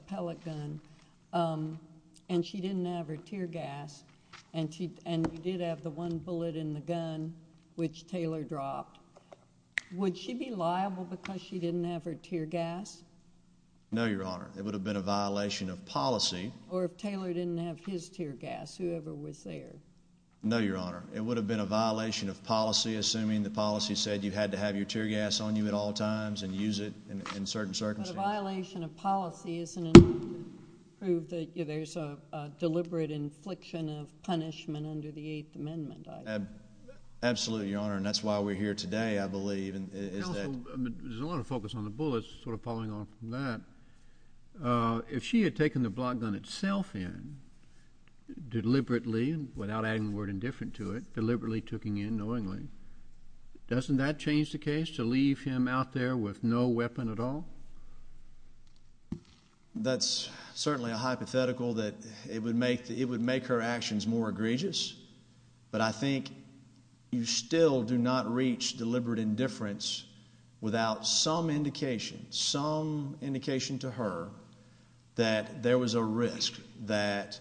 bullet in the gun which Taylor dropped, would she be liable because she didn't have her tear gas? No, Your Honor. It would have been a violation of policy. Or if Taylor didn't have his tear gas, whoever was there. No, Your Honor. It would have been a violation of policy, assuming the policy said you had to have your tear gas on you at all times and use it in certain circumstances. But a violation of policy isn't enough to prove that there's a deliberate infliction of punishment under the Eighth Amendment, either. Absolutely, Your Honor. And that's why we're here today, I believe, is that... Counsel, there's a lot of focus on the bullets sort of falling off from that. If she had taken the block gun itself in, deliberately, without adding the word indifferent to it, deliberately took it in knowingly, doesn't that change the case to leave him out there with no weapon at all? That's certainly a hypothetical that... it would make her actions more egregious. But I think you still do not reach deliberate indifference without some indication, some indication to her that there was a risk that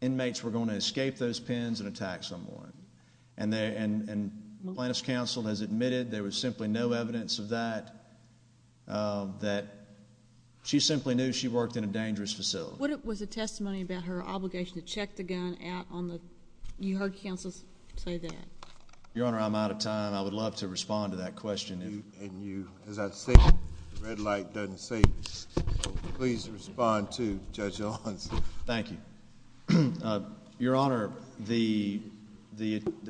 inmates were going to escape those pens and attack someone. And Plaintiff's Counsel has admitted there was simply no evidence of that, that she simply knew she worked in a dangerous facility. What was the testimony about her obligation to check the gun out on the... you heard counsel say that? Your Honor, I'm out of time. I would love to respond to that question. And you... as I was saying, the red light doesn't say, please respond to Judge Alonso. Thank you. Your Honor, the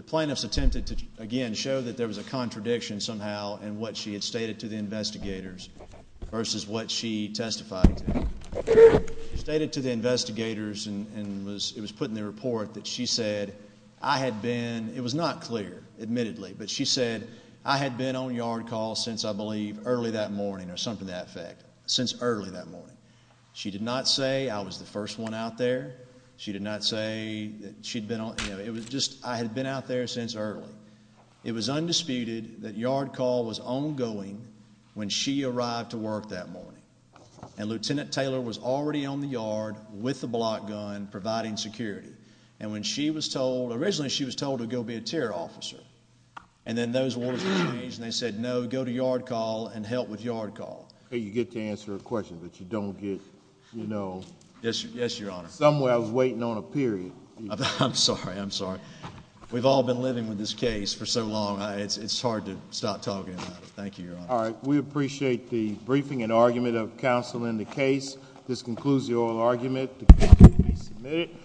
plaintiffs attempted to, again, show that there was a contradiction somehow in what she had stated to the investigators versus what she testified to. She stated to the investigators, and it was put in the report, that she said, I had been... it was not clear, admittedly, but she said, I had been on yard call since, I believe, early that morning or something to that effect, since early that morning. She did not say, I was the first one out there. She did not say that she'd been on... it was just, I had been out there since early. It was undisputed that yard call was ongoing when she arrived to work that morning. And Lieutenant Taylor was already on the yard with the block gun, providing security. And when she was told... originally, she was told to go be a terror officer. And then those words were changed, and they said, no, go to yard call and help with yard call. You get to answer a question, but you don't get, you know... Yes, Your Honor. Somewhere, I was waiting on a period. I'm sorry. I'm sorry. We've all been living with this case for so long, it's hard to stop talking about it. Thank you, Your Honor. All right. We appreciate the briefing and argument of counsel in the case. This concludes the oral argument. The case may be submitted.